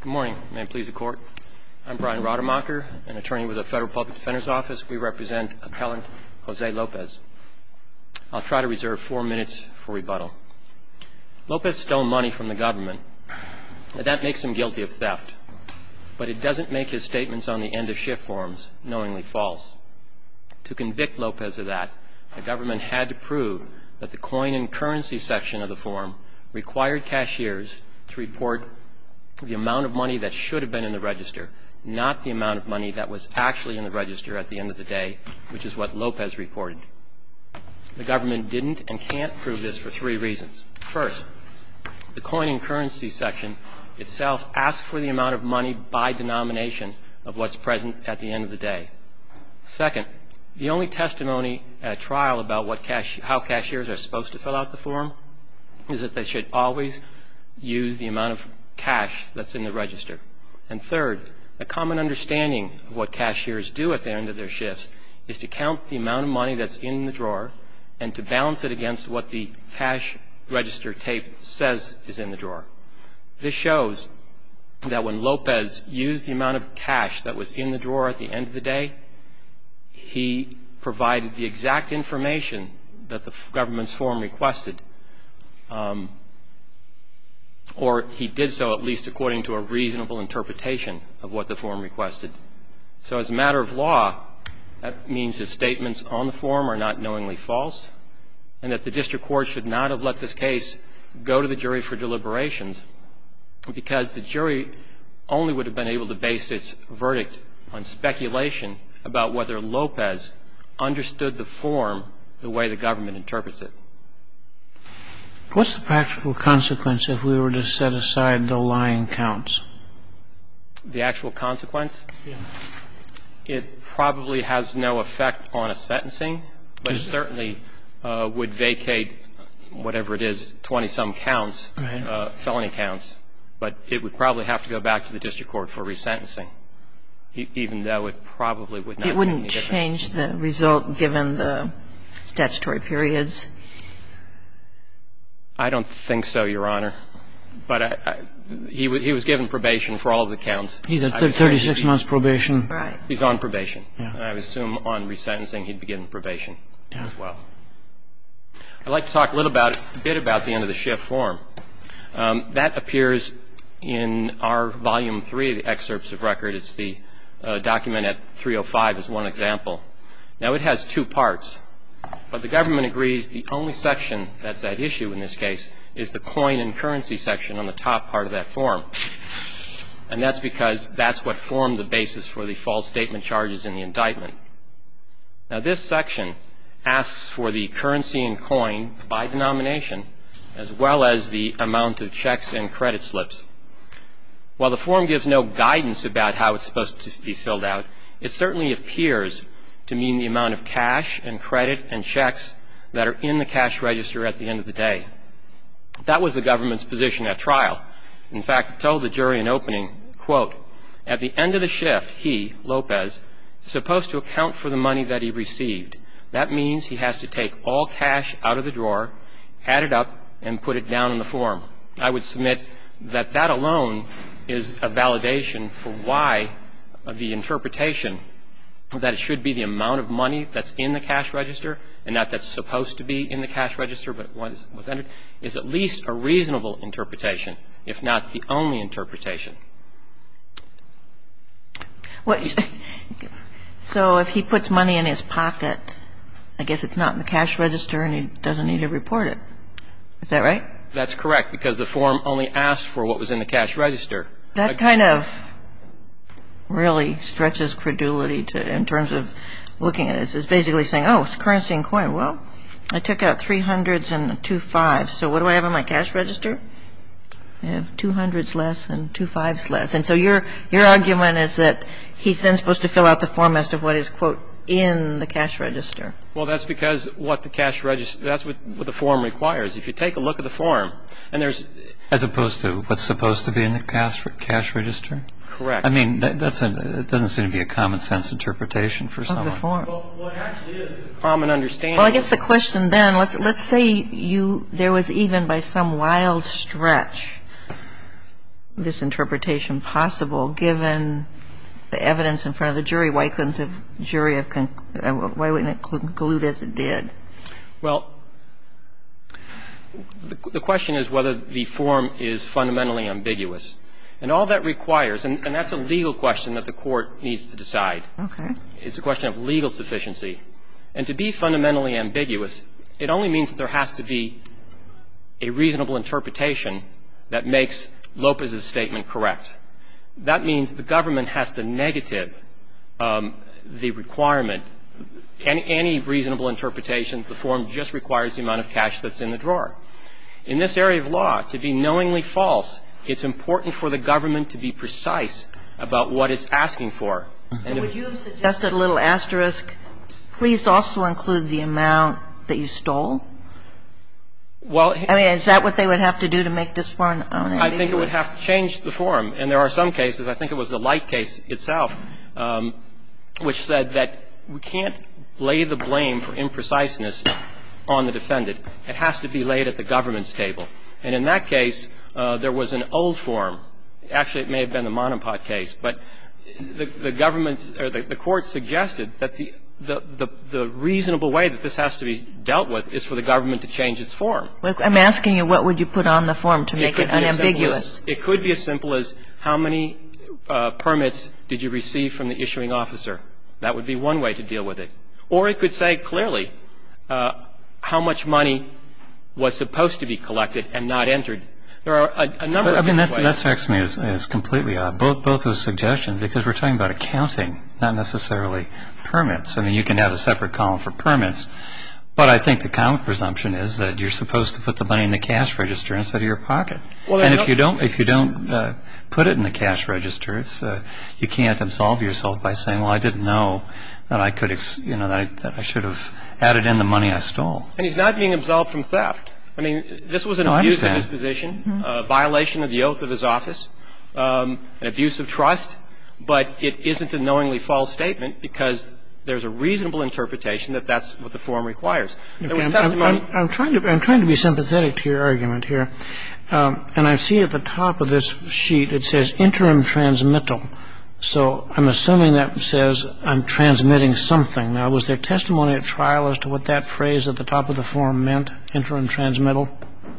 Good morning. May it please the Court. I'm Brian Rademacher, an attorney with the Federal Public Defender's Office. We represent appellant Jose Lopez. I'll try to reserve four minutes for rebuttal. Lopez stole money from the government. That makes him guilty of theft. But it doesn't make his statements on the end-of-shift forms knowingly false. To convict Lopez of that, the government had to prove that the coin and currency section of the form required cashiers to report the amount of money that should have been in the register, not the amount of money that was actually in the register at the end of the day, which is what Lopez reported. The government didn't and can't prove this for three reasons. First, the coin and currency section itself asks for the amount of money by denomination of what's present at the end of the day. Second, the only testimony at trial about how cashiers are supposed to fill out the form is that they should always use the amount of cash that's in the register. And third, a common understanding of what cashiers do at the end of their shifts is to count the amount of money that's in the drawer and to balance it against what the cash register tape says is in the drawer. This shows that when Lopez used the amount of cash that was in the drawer at the end of the day, he provided the exact information that the government's form requested, or he did so at least according to a reasonable interpretation of what the form requested. So as a matter of law, that means his statements on the form are not knowingly false and that the district court should not have let this case go to the jury for deliberations because the jury only would have been able to base its verdict on speculation about whether Lopez understood the form the way the government interprets it. What's the practical consequence if we were to set aside the lying counts? The actual consequence? Yes. It probably has no effect on a sentencing, but it certainly would vacate whatever it is, 20-some counts, felony counts. But it would probably have to go back to the district court for resentencing, even though it probably would not make any difference. It wouldn't change the result given the statutory periods? I don't think so, Your Honor. But he was given probation for all the counts. He got 36 months' probation. Right. He's on probation. I would assume on resentencing he'd be given probation as well. Yeah. I'd like to talk a little bit about the end-of-the-shift form. That appears in our Volume 3 of the excerpts of record. It's the document at 305 as one example. Now, it has two parts, but the government agrees the only section that's at issue in this case is the coin and currency section on the top part of that form. And that's because that's what formed the basis for the false statement charges in the indictment. Now, this section asks for the currency and coin by denomination as well as the amount of checks and credit slips. While the form gives no guidance about how it's supposed to be filled out, it certainly appears to mean the amount of cash and credit and checks that are in the cash register at the end of the day. That was the government's position at trial. In fact, it told the jury in opening, quote, at the end of the shift he, Lopez, is supposed to account for the money that he received. That means he has to take all cash out of the drawer, add it up, and put it down in the form. I would submit that that alone is a validation for why the interpretation that it should be the amount of money that's in the cash register and not that's supposed to be in the cash register but was entered is at least a reasonable interpretation, if not the only interpretation. So if he puts money in his pocket, I guess it's not in the cash register and he doesn't need to report it. Is that right? That's correct because the form only asked for what was in the cash register. That kind of really stretches credulity in terms of looking at it. It's basically saying, oh, it's currency and coin. Well, I took out three hundreds and two fives. So what do I have in my cash register? I have two hundreds less and two fives less. And so your argument is that he's then supposed to fill out the form as to what is, quote, in the cash register. Well, that's because what the cash register – that's what the form requires. If you take a look at the form and there's – As opposed to what's supposed to be in the cash register? Correct. I mean, that doesn't seem to be a common sense interpretation for someone. Of the form. Well, it actually is a common understanding. Well, I guess the question then, let's say you – there was even by some wild stretch this interpretation possible given the evidence in front of the jury. Why couldn't the jury have – why wouldn't it conclude as it did? Well, the question is whether the form is fundamentally ambiguous. And all that requires – and that's a legal question that the Court needs to decide. Okay. It's a question of legal sufficiency. And to be fundamentally ambiguous, it only means that there has to be a reasonable interpretation that makes Lopez's statement correct. That means the government has to negative the requirement. Any reasonable interpretation, the form just requires the amount of cash that's in the drawer. In this area of law, to be knowingly false, it's important for the government to be precise about what it's asking for. And would you have suggested a little asterisk, please also include the amount that you stole? Well – I mean, is that what they would have to do to make this form unambiguous? I think it would have to change the form. And there are some cases, I think it was the Light case itself, which said that we can't lay the blame for impreciseness on the defendant. It has to be laid at the government's table. And in that case, there was an old form. Actually, it may have been the Monopod case. But the government's – or the Court suggested that the reasonable way that this has to be dealt with is for the government to change its form. I'm asking you what would you put on the form to make it unambiguous. It could be as simple as how many permits did you receive from the issuing officer. That would be one way to deal with it. Or it could say clearly how much money was supposed to be collected and not entered. There are a number of different ways. Well, I mean, that strikes me as completely odd, both those suggestions, because we're talking about accounting, not necessarily permits. I mean, you can have a separate column for permits. But I think the common presumption is that you're supposed to put the money in the cash register instead of your pocket. And if you don't put it in the cash register, you can't absolve yourself by saying, well, I didn't know that I could – that I should have added in the money I stole. And he's not being absolved from theft. I mean, this was an abuse of his position. No, I understand. A violation of the oath of his office. An abuse of trust. But it isn't a knowingly false statement because there's a reasonable interpretation that that's what the form requires. There was testimony – I'm trying to be sympathetic to your argument here. And I see at the top of this sheet it says interim transmittal. So I'm assuming that says I'm transmitting something. Now, was there testimony at trial as to what that phrase at the top of the form meant, interim transmittal?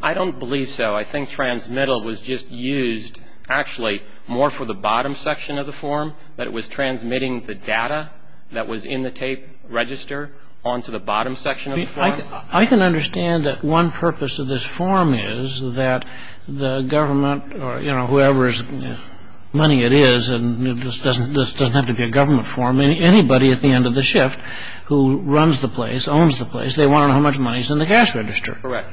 I don't believe so. I think transmittal was just used actually more for the bottom section of the form, that it was transmitting the data that was in the tape register onto the bottom section of the form. I can understand that one purpose of this form is that the government or, you know, whoever's money it is – and this doesn't have to be a government form – anybody at the end of the shift who runs the place, owns the place, they want to know how much money is in the cash register. Correct.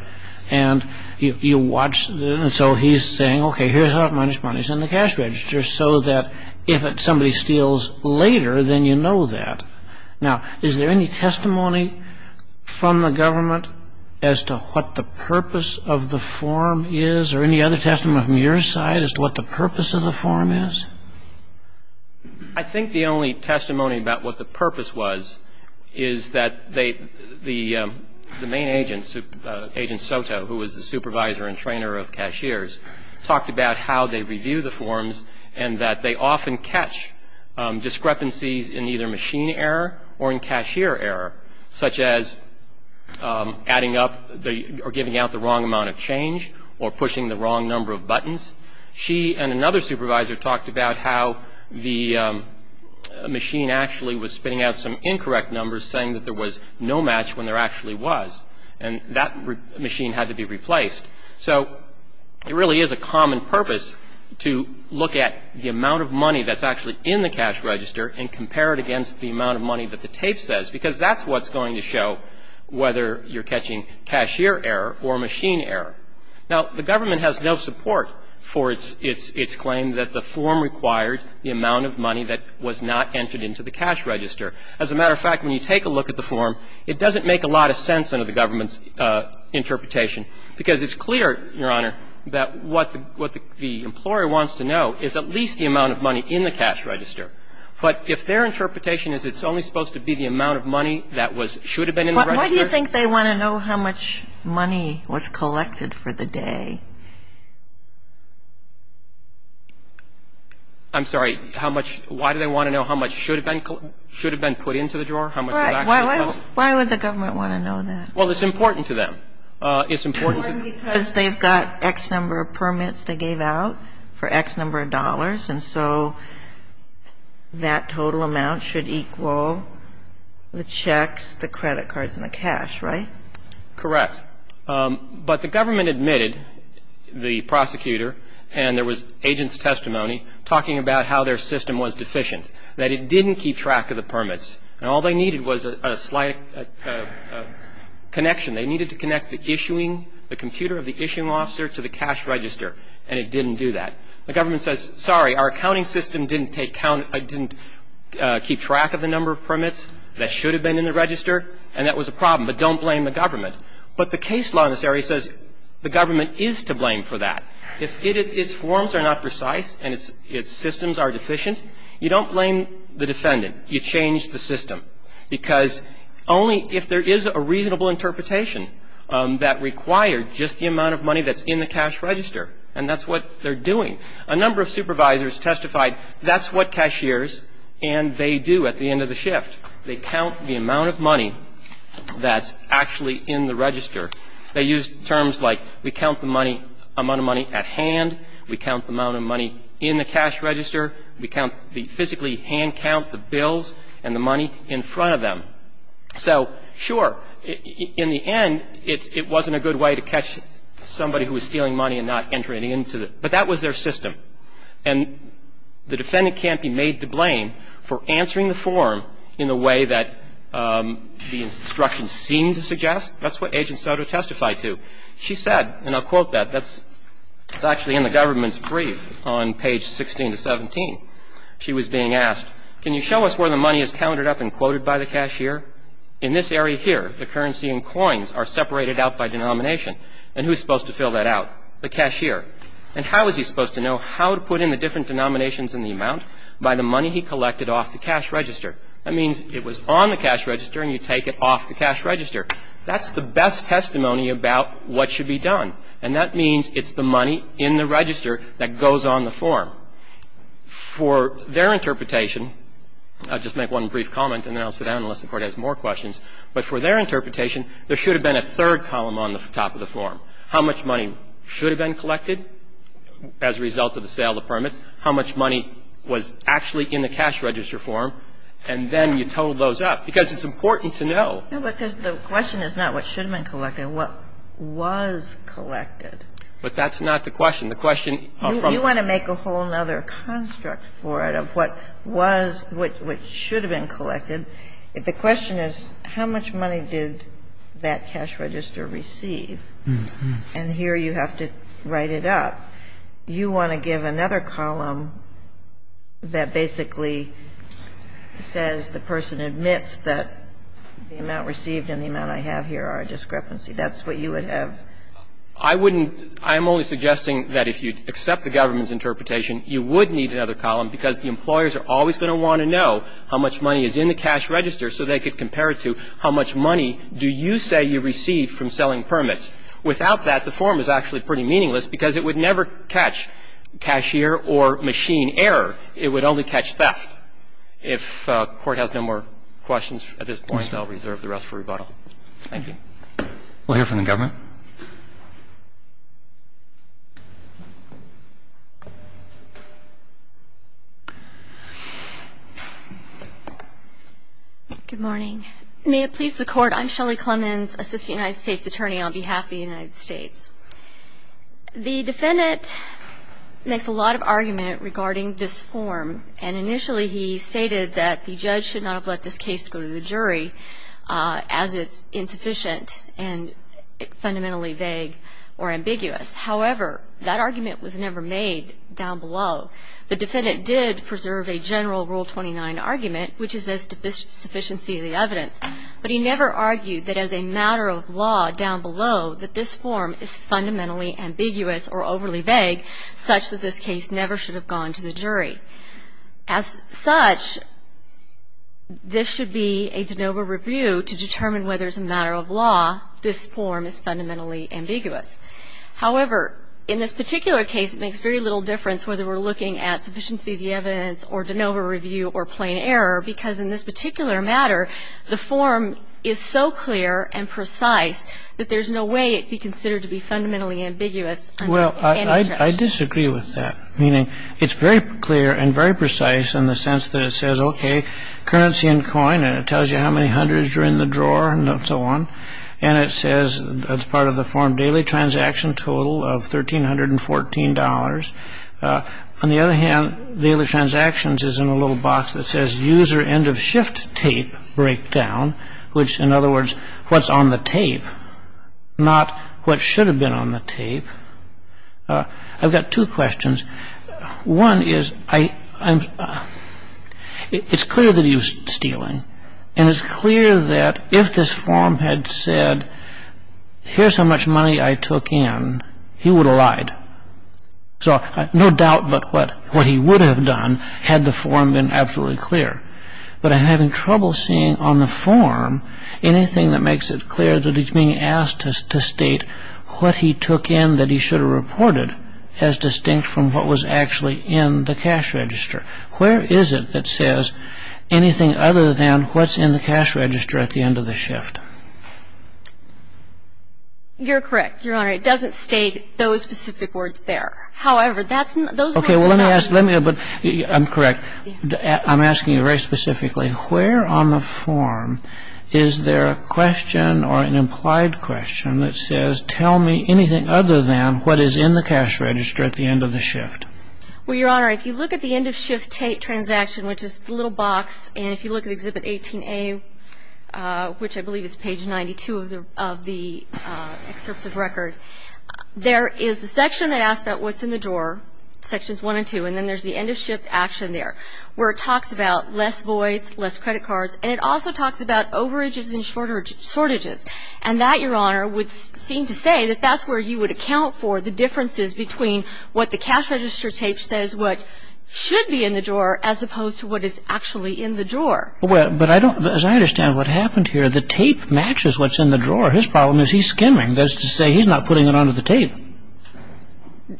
And you watch – and so he's saying, okay, here's how much money is in the cash register so that if somebody steals later, then you know that. Now, is there any testimony from the government as to what the purpose of the form is or any other testimony from your side as to what the purpose of the form is? I think the only testimony about what the purpose was is that they – the main agent, Agent Soto, who was the supervisor and trainer of cashiers, talked about how they review the forms and that they often catch discrepancies in either machine error or in cashier error, such as adding up or giving out the wrong amount of change or pushing the wrong number of buttons. She and another supervisor talked about how the machine actually was spitting out some incorrect numbers, saying that there was no match when there actually was, and that machine had to be replaced. So it really is a common purpose to look at the amount of money that's actually in the cash register and compare it against the amount of money that the tape says, because that's what's going to show whether you're catching cashier error or machine error. Now, the government has no support for its claim that the form required the amount of money that was not entered into the cash register. As a matter of fact, when you take a look at the form, it doesn't make a lot of sense under the government's interpretation, because it's clear, Your Honor, that what the employer wants to know is at least the amount of money in the cash register. But if their interpretation is it's only supposed to be the amount of money that was – should have been in the register. Why do you think they want to know how much money was collected for the day? I'm sorry. How much – why do they want to know how much should have been – should have been put into the drawer? How much was actually collected? Why would the government want to know that? Well, it's important to them. It's important to – Because they've got X number of permits they gave out for X number of dollars, and so that total amount should equal the checks, the credit cards, and the cash, right? Correct. But the government admitted, the prosecutor, and there was agent's testimony, talking about how their system was deficient, that it didn't keep track of the permits, and all they needed was a slight connection. They needed to connect the issuing – the computer of the issuing officer to the cash register, and it didn't do that. The government says, sorry, our accounting system didn't take count – didn't keep track of the number of permits that should have been in the register, and that was a problem, but don't blame the government. But the case law in this area says the government is to blame for that. If its forms are not precise and its systems are deficient, you don't blame the defendant. You change the system. Because only if there is a reasonable interpretation that required just the amount of money that's in the cash register, and that's what they're doing. A number of supervisors testified that's what cashiers and they do at the end of the shift. They count the amount of money that's actually in the register. They use terms like we count the money – amount of money at hand, we count the amount of money in the cash register, we count the physically hand count, the bills and the money in front of them. So, sure, in the end, it wasn't a good way to catch somebody who was stealing money and not entering it into the – but that was their system. And the defendant can't be made to blame for answering the form in the way that the instructions seem to suggest. That's what Agent Soto testified to. She said, and I'll quote that. That's actually in the government's brief on page 16 to 17. She was being asked, can you show us where the money is counted up and quoted by the cashier? In this area here, the currency and coins are separated out by denomination. And who's supposed to fill that out? The cashier. And how is he supposed to know how to put in the different denominations in the amount? By the money he collected off the cash register. That means it was on the cash register and you take it off the cash register. That's the best testimony about what should be done. And that means it's the money in the register that goes on the form. For their interpretation, I'll just make one brief comment and then I'll sit down unless the Court has more questions, but for their interpretation, there should have been a third column on the top of the form. How much money should have been collected as a result of the sale of permits? How much money was actually in the cash register form? And then you total those up because it's important to know. No, because the question is not what should have been collected. What was collected? But that's not the question. The question from the question. You want to make a whole other construct for it of what was, what should have been collected. The question is how much money did that cash register receive? And here you have to write it up. You want to give another column that basically says the person admits that the amount received and the amount I have here are a discrepancy. That's what you would have. I wouldn't. I'm only suggesting that if you accept the government's interpretation, you would need another column because the employers are always going to want to know how much money is in the cash register so they could compare it to how much money do you say you receive from selling permits. Without that, the form is actually pretty meaningless because it would never catch cashier or machine error. It would only catch theft. If Court has no more questions at this point, I'll reserve the rest for rebuttal. Thank you. We'll hear from the government. Good morning. May it please the Court, I'm Shelley Clemons, Assistant United States Attorney on behalf of the United States. The defendant makes a lot of argument regarding this form, and initially he stated that the judge should not have let this case go to the jury as it's insufficient and fundamentally vague or ambiguous. However, that argument was never made down below. The defendant did preserve a general Rule 29 argument, which is a sufficiency of the evidence, but he never argued that as a matter of law down below that this form is fundamentally ambiguous or overly vague such that this case never should have gone to the jury. As such, this should be a de novo review to determine whether as a matter of law this form is fundamentally ambiguous. However, in this particular case, it makes very little difference whether we're looking at sufficiency of the evidence or de novo review or plain error because in this particular matter the form is so clear and precise that there's no way it could be considered to be fundamentally ambiguous. Well, I disagree with that, meaning it's very clear and very precise in the sense that it says, okay, currency and coin, and it tells you how many hundreds are in the drawer and so on, and it says as part of the form daily transaction total of $1,314. On the other hand, daily transactions is in a little box that says user end of shift tape breakdown, which, in other words, what's on the tape, not what should have been on the tape. I've got two questions. One is it's clear that he was stealing, and it's clear that if this form had said, here's how much money I took in, he would have lied. So no doubt but what he would have done had the form been absolutely clear. But I'm having trouble seeing on the form anything that makes it clear that he's being asked to state what he took in that he should have reported as distinct from what was actually in the cash register. Where is it that says anything other than what's in the cash register at the end of the shift? You're correct, Your Honor. It doesn't state those specific words there. However, that's not. Okay. Well, let me ask. I'm correct. I'm asking you very specifically. Where on the form is there a question or an implied question that says, tell me anything other than what is in the cash register at the end of the shift? Well, Your Honor, if you look at the end-of-shift transaction, which is the little box, and if you look at Exhibit 18A, which I believe is page 92 of the excerpts of record, there is a section that asks about what's in the drawer, Sections 1 and 2, and then there's the end-of-shift action there where it talks about less voids, less credit cards, and it also talks about overages and shortages. And that, Your Honor, would seem to say that that's where you would account for the differences between what the cash register tape says what should be in the drawer as opposed to what is actually in the drawer. But as I understand what happened here, the tape matches what's in the drawer. His problem is he's skimming. That's to say he's not putting it onto the tape.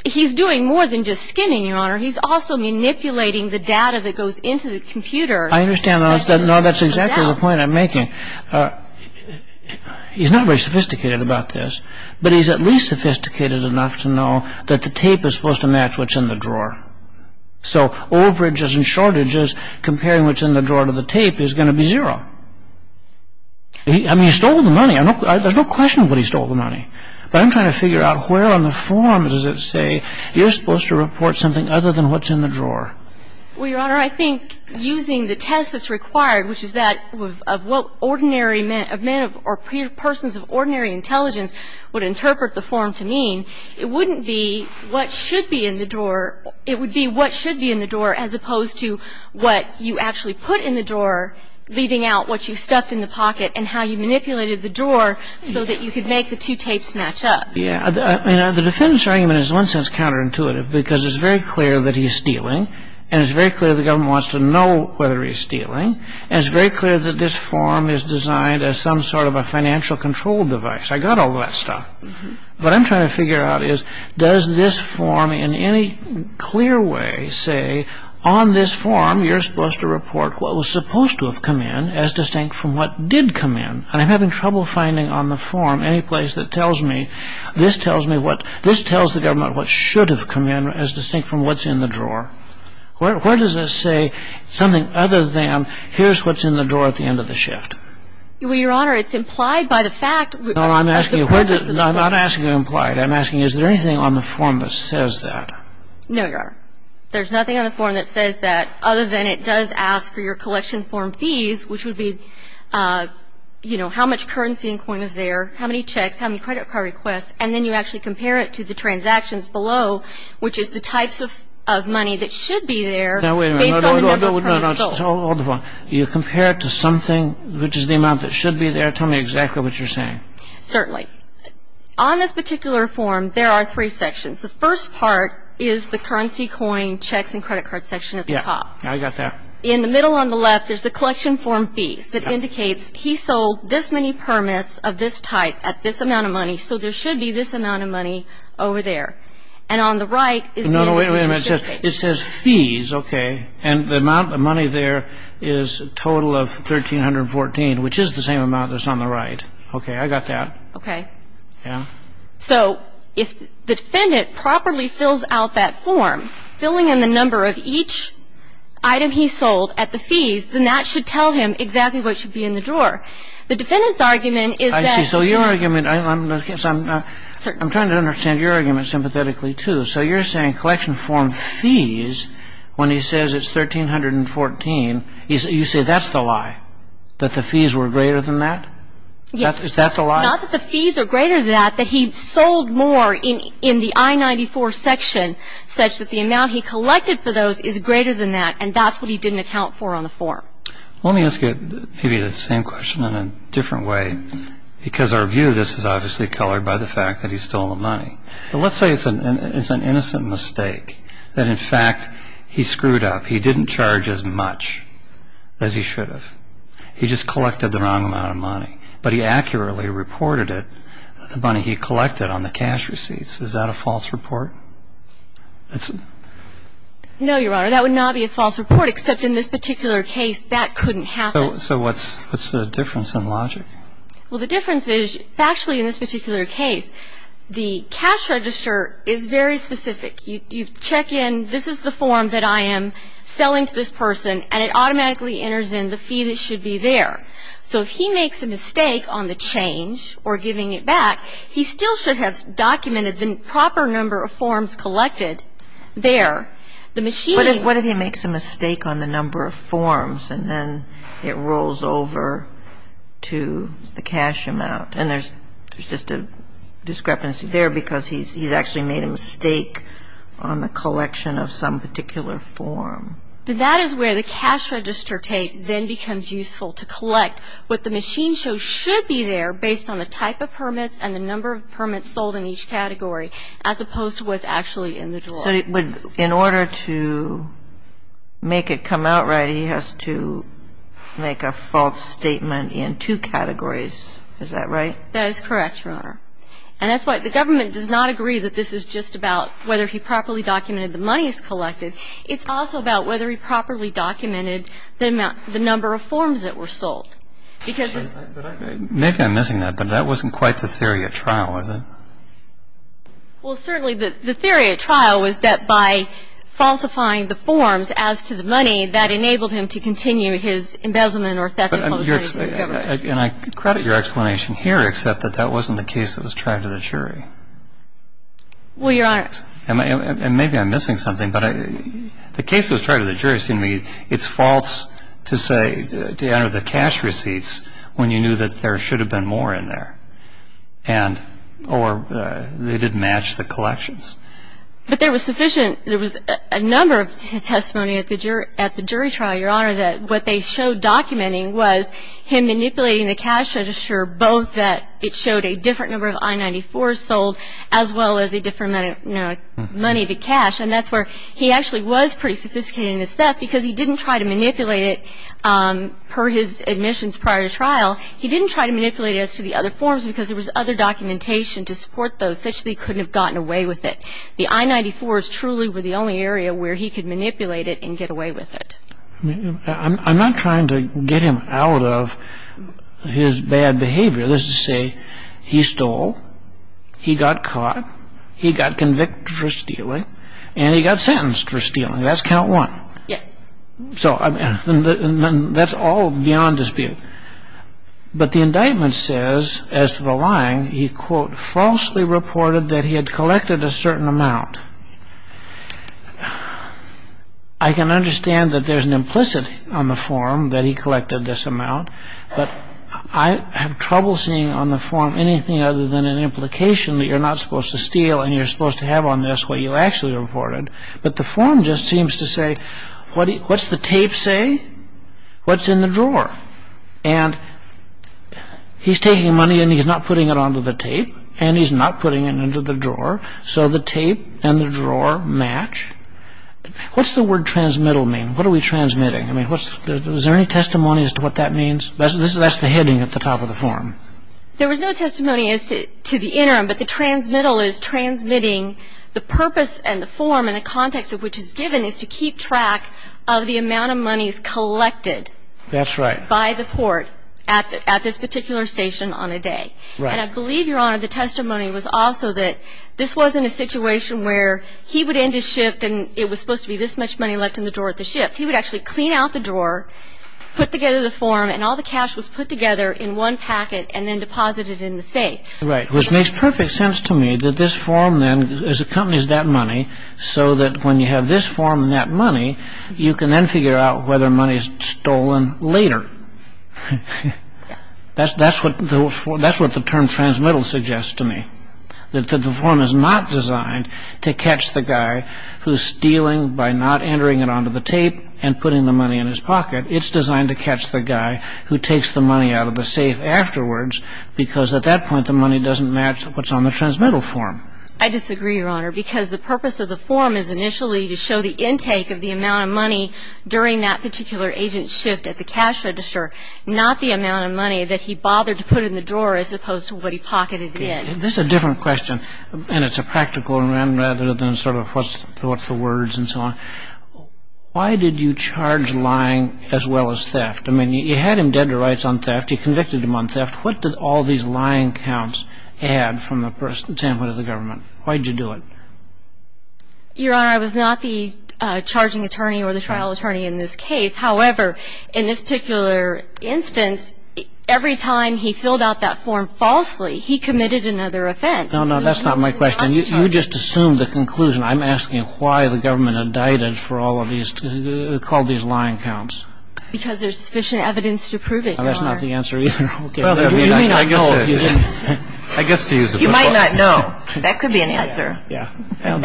He's doing more than just skimming, Your Honor. He's also manipulating the data that goes into the computer. I understand. No, that's exactly the point I'm making. He's not very sophisticated about this, but he's at least sophisticated enough to know that the tape is supposed to match what's in the drawer. So overages and shortages, comparing what's in the drawer to the tape, is going to be zero. I mean, he stole the money. There's no question of what he stole the money. But I'm trying to figure out where on the form does it say you're supposed to report something other than what's in the drawer. Well, Your Honor, I think using the test that's required, which is that of what ordinary men or persons of ordinary intelligence would interpret the form to mean, it wouldn't be what should be in the drawer. It would be what should be in the drawer as opposed to what you actually put in the drawer, leaving out what you stuffed in the pocket and how you manipulated the drawer so that you could make the two tapes match up. Yeah. I mean, the defendant's argument is in one sense counterintuitive because it's very clear that he's stealing and it's very clear that this form is designed as some sort of a financial control device. I got all that stuff. What I'm trying to figure out is, does this form in any clear way say, on this form you're supposed to report what was supposed to have come in as distinct from what did come in? And I'm having trouble finding on the form any place that tells me, this tells the government what should have come in as distinct from what's in the drawer. Where does it say something other than, here's what's in the drawer at the end of the shift? Well, Your Honor, it's implied by the fact. No, I'm asking you, I'm not asking you implied. I'm asking you, is there anything on the form that says that? No, Your Honor. There's nothing on the form that says that other than it does ask for your collection form fees, which would be, you know, how much currency and coin is there, how many checks, how many credit card requests, and then you actually compare it to the transactions below, which is the types of money that should be there based on the number of permits sold. Now, wait a minute. No, no, no. Hold the phone. You compare it to something which is the amount that should be there? Tell me exactly what you're saying. Certainly. On this particular form, there are three sections. The first part is the currency, coin, checks, and credit card section at the top. Yeah, I got that. In the middle on the left, there's the collection form fees. It indicates he sold this many permits of this type at this amount of money, so there should be this amount of money over there. And on the right is the indication of shipping. No, no, wait a minute. It says fees. Okay. And the amount of money there is a total of $1,314, which is the same amount that's on the right. Okay. I got that. Okay. Yeah. So if the defendant properly fills out that form, filling in the number of each item he sold at the fees, then that should tell him exactly what should be in the drawer. so there should be this amount of money over there. So you're saying collection form fees, when he says it's $1,314, you say that's the lie, that the fees were greater than that? Yes. Is that the lie? Not that the fees are greater than that, but he sold more in the I-94 section such that the amount he collected for those is greater than that, and that's what he didn't account for on the form. Let me ask you maybe the same question in a different way, because our view of this is obviously colored by the fact that he stole the money. Let's say it's an innocent mistake, that, in fact, he screwed up. He didn't charge as much as he should have. He just collected the wrong amount of money, but he accurately reported it, the money he collected on the cash receipts. Is that a false report? No, Your Honor. That would not be a false report, except in this particular case, that couldn't happen. So what's the difference in logic? Well, the difference is factually in this particular case, the cash register is very specific. You check in, this is the form that I am selling to this person, and it automatically enters in the fee that should be there. So if he makes a mistake on the change or giving it back, he still should have documented the proper number of forms collected there. What if he makes a mistake on the number of forms, and then it rolls over to the cash amount, and there's just a discrepancy there because he's actually made a mistake on the collection of some particular form? That is where the cash register tape then becomes useful, to collect what the machine shows should be there, based on the type of permits and the number of permits sold in each category, as opposed to what's actually in the drawer. So in order to make it come out right, he has to make a false statement in two categories. Is that right? That is correct, Your Honor. And that's why the government does not agree that this is just about whether he properly documented the monies collected. It's also about whether he properly documented the number of forms that were sold. Nick, I'm missing that, but that wasn't quite the theory at trial, was it? Well, certainly the theory at trial was that by falsifying the forms as to the money, that enabled him to continue his embezzlement or theft of money from the government. And I credit your explanation here, except that that wasn't the case that was tried to the jury. Well, Your Honor. And maybe I'm missing something, but the case that was tried to the jury seemed to me, it's false to say, to enter the cash receipts, when you knew that there should have been more in there, or they didn't match the collections. But there was sufficient, there was a number of testimony at the jury trial, Your Honor, that what they showed documenting was him manipulating the cash register, both that it showed a different number of I-94s sold, as well as a different amount of money to cash. And that's where he actually was pretty sophisticated in his theft, because he didn't try to manipulate it per his admissions prior to trial. He didn't try to manipulate it as to the other forms, because there was other documentation to support those, such that he couldn't have gotten away with it. The I-94s truly were the only area where he could manipulate it and get away with it. I mean, I'm not trying to get him out of his bad behavior. This is to say, he stole, he got caught, he got convicted for stealing, and he got sentenced for stealing. That's count one. Yes. So that's all beyond dispute. But the indictment says, as to the lying, he, quote, falsely reported that he had collected a certain amount. I can understand that there's an implicit on the form that he collected this amount, but I have trouble seeing on the form anything other than an implication that you're not supposed to steal and you're supposed to have on this what you actually reported. But the form just seems to say, what's the tape say? What's in the drawer? And he's taking money and he's not putting it onto the tape, and he's not putting it into the drawer, so the tape and the drawer match. What's the word transmittal mean? What are we transmitting? I mean, is there any testimony as to what that means? That's the heading at the top of the form. There was no testimony as to the interim, but the transmittal is transmitting the purpose and the form in the context of which it's given, is to keep track of the amount of monies collected. That's right. By the court at this particular station on a day. Right. And I believe, Your Honor, the testimony was also that this wasn't a situation where he would end his shift and it was supposed to be this much money left in the drawer at the shift. He would actually clean out the drawer, put together the form, and all the cash was put together in one packet and then deposited in the safe. Right, which makes perfect sense to me that this form then accompanies that money so that when you have this form and that money, you can then figure out whether money is stolen later. That's what the term transmittal suggests to me, that the form is not designed to catch the guy who's stealing by not entering it onto the tape and putting the money in his pocket. It's designed to catch the guy who takes the money out of the safe afterwards because at that point the money doesn't match what's on the transmittal form. I disagree, Your Honor, because the purpose of the form is initially to show the intake of the amount of money during that particular agent's shift at the cash register, not the amount of money that he bothered to put in the drawer as opposed to what he pocketed in. This is a different question, and it's a practical one rather than sort of what's the words and so on. Why did you charge lying as well as theft? I mean, you had him dead to rights on theft. You convicted him on theft. What did all these lying counts add from the standpoint of the government? Why did you do it? Your Honor, I was not the charging attorney or the trial attorney in this case. However, in this particular instance, every time he filled out that form falsely, he committed another offense. No, no, that's not my question. You just assumed the conclusion. I'm asking why the government indicted for all of these, called these lying counts. Because there's sufficient evidence to prove it, Your Honor. That's not the answer either. Okay. You may not know if you didn't. I guess to use a football. You might not know. That could be an answer. Yeah. I mean,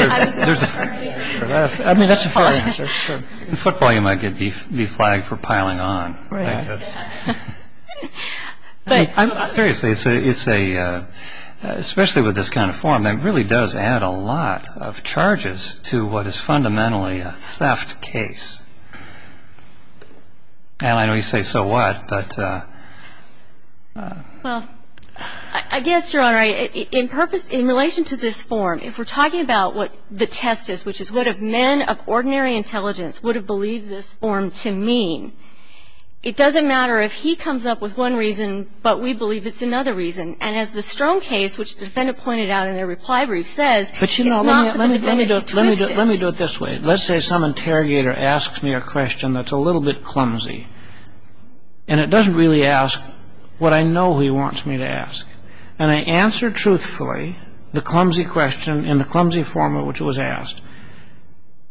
that's a fair answer, sure. In football, you might be flagged for piling on, I guess. Right. But seriously, it's a, especially with this kind of form, it really does add a lot of charges to what is fundamentally a theft case. And I know you say, so what? But. Well, I guess, Your Honor, in purpose, in relation to this form, if we're talking about what the test is, which is what a man of ordinary intelligence would have believed this form to mean, it doesn't matter if he comes up with one reason, but we believe it's another reason. And as the Strome case, which the defendant pointed out in their reply brief, says, it's not for the defendant to twist it. But, you know, let me do it this way. Let's say some interrogator asks me a question that's a little bit clumsy. And it doesn't really ask what I know he wants me to ask. And I answer truthfully the clumsy question in the clumsy form in which it was asked,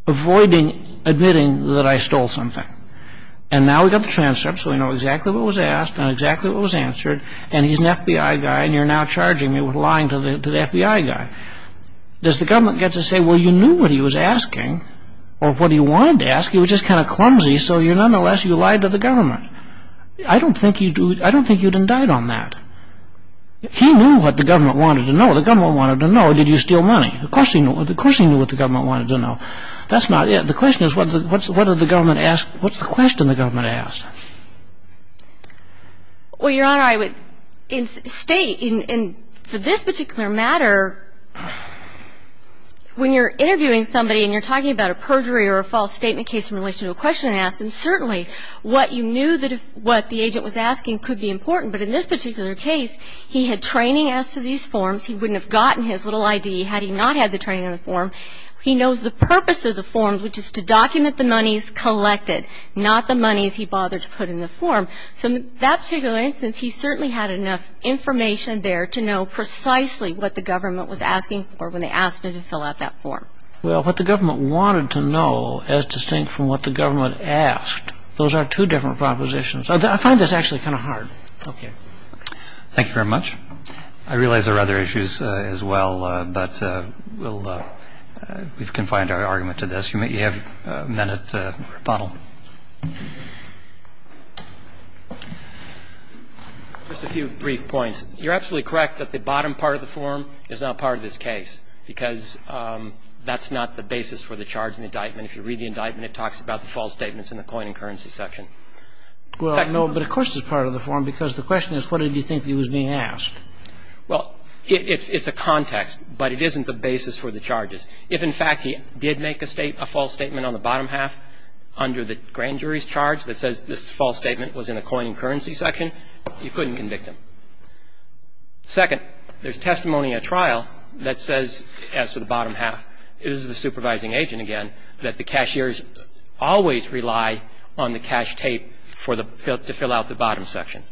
avoiding admitting that I stole something. And now we've got the transcript, so we know exactly what was asked and exactly what was answered, and he's an FBI guy, and you're now charging me with lying to the FBI guy. Does the government get to say, well, you knew what he was asking, or what he wanted to ask, he was just kind of clumsy, so nonetheless you lied to the government. I don't think you'd indict on that. He knew what the government wanted to know. The government wanted to know, did you steal money? Of course he knew what the government wanted to know. That's not it. The question is, what's the question the government asked? Well, Your Honor, I would state, and for this particular matter, when you're interviewing somebody and you're talking about a perjury or a false statement case in relation to a question asked, and certainly what you knew what the agent was asking could be important, but in this particular case, he had training as to these forms. He wouldn't have gotten his little I.D. had he not had the training on the form. He knows the purpose of the form, which is to document the monies collected, not the monies he bothered to put in the form. So in that particular instance, he certainly had enough information there to know precisely what the government was asking for when they asked him to fill out that form. Well, what the government wanted to know, as distinct from what the government asked, those are two different propositions. I find this actually kind of hard. Okay. Thank you very much. I realize there are other issues as well, but we've confined our argument to this. If you have a minute to rebuttal. Just a few brief points. You're absolutely correct that the bottom part of the form is not part of this case because that's not the basis for the charge and indictment. If you read the indictment, it talks about the false statements in the coin and currency section. Well, no, but of course it's part of the form because the question is what did you think he was being asked? Well, it's a context, but it isn't the basis for the charges. If, in fact, he did make a false statement on the bottom half under the grand jury's charge that says this false statement was in the coin and currency section, you couldn't convict him. Second, there's testimony at trial that says, as to the bottom half, it is the supervising agent, again, that the cashiers always rely on the cash tape to fill out the bottom section.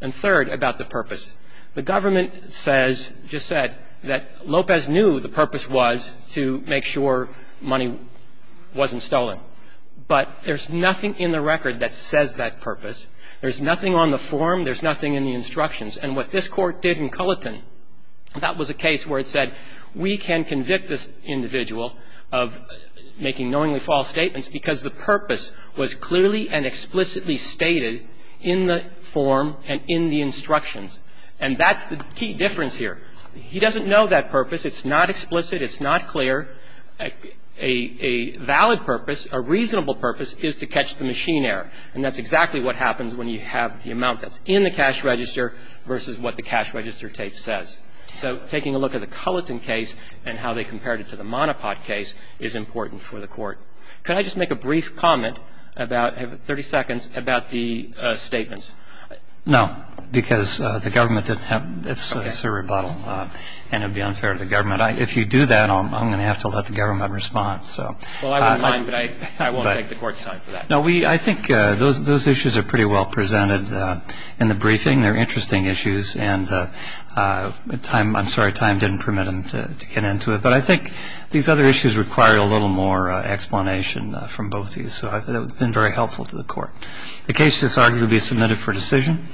And third, about the purpose. The government says, just said, that Lopez knew the purpose was to make sure money wasn't stolen. But there's nothing in the record that says that purpose. There's nothing on the form. There's nothing in the instructions. And what this Court did in Culliton, that was a case where it said we can convict this individual of making knowingly false statements because the purpose was clearly and explicitly stated in the form and in the instructions. And that's the key difference here. He doesn't know that purpose. It's not explicit. It's not clear. A valid purpose, a reasonable purpose, is to catch the machine error. And that's exactly what happens when you have the amount that's in the cash register versus what the cash register tape says. So taking a look at the Culliton case and how they compared it to the Monopod case is important for the Court. Could I just make a brief comment about, 30 seconds, about the statements? No, because the government didn't have, it's a rebuttal. And it would be unfair to the government. If you do that, I'm going to have to let the government respond. Well, I wouldn't mind, but I won't take the Court's time for that. No, I think those issues are pretty well presented in the briefing. They're interesting issues. And time, I'm sorry, time didn't permit them to get into it. But I think these other issues require a little more explanation from both these. So that would have been very helpful to the Court. The case is argued to be submitted for decision.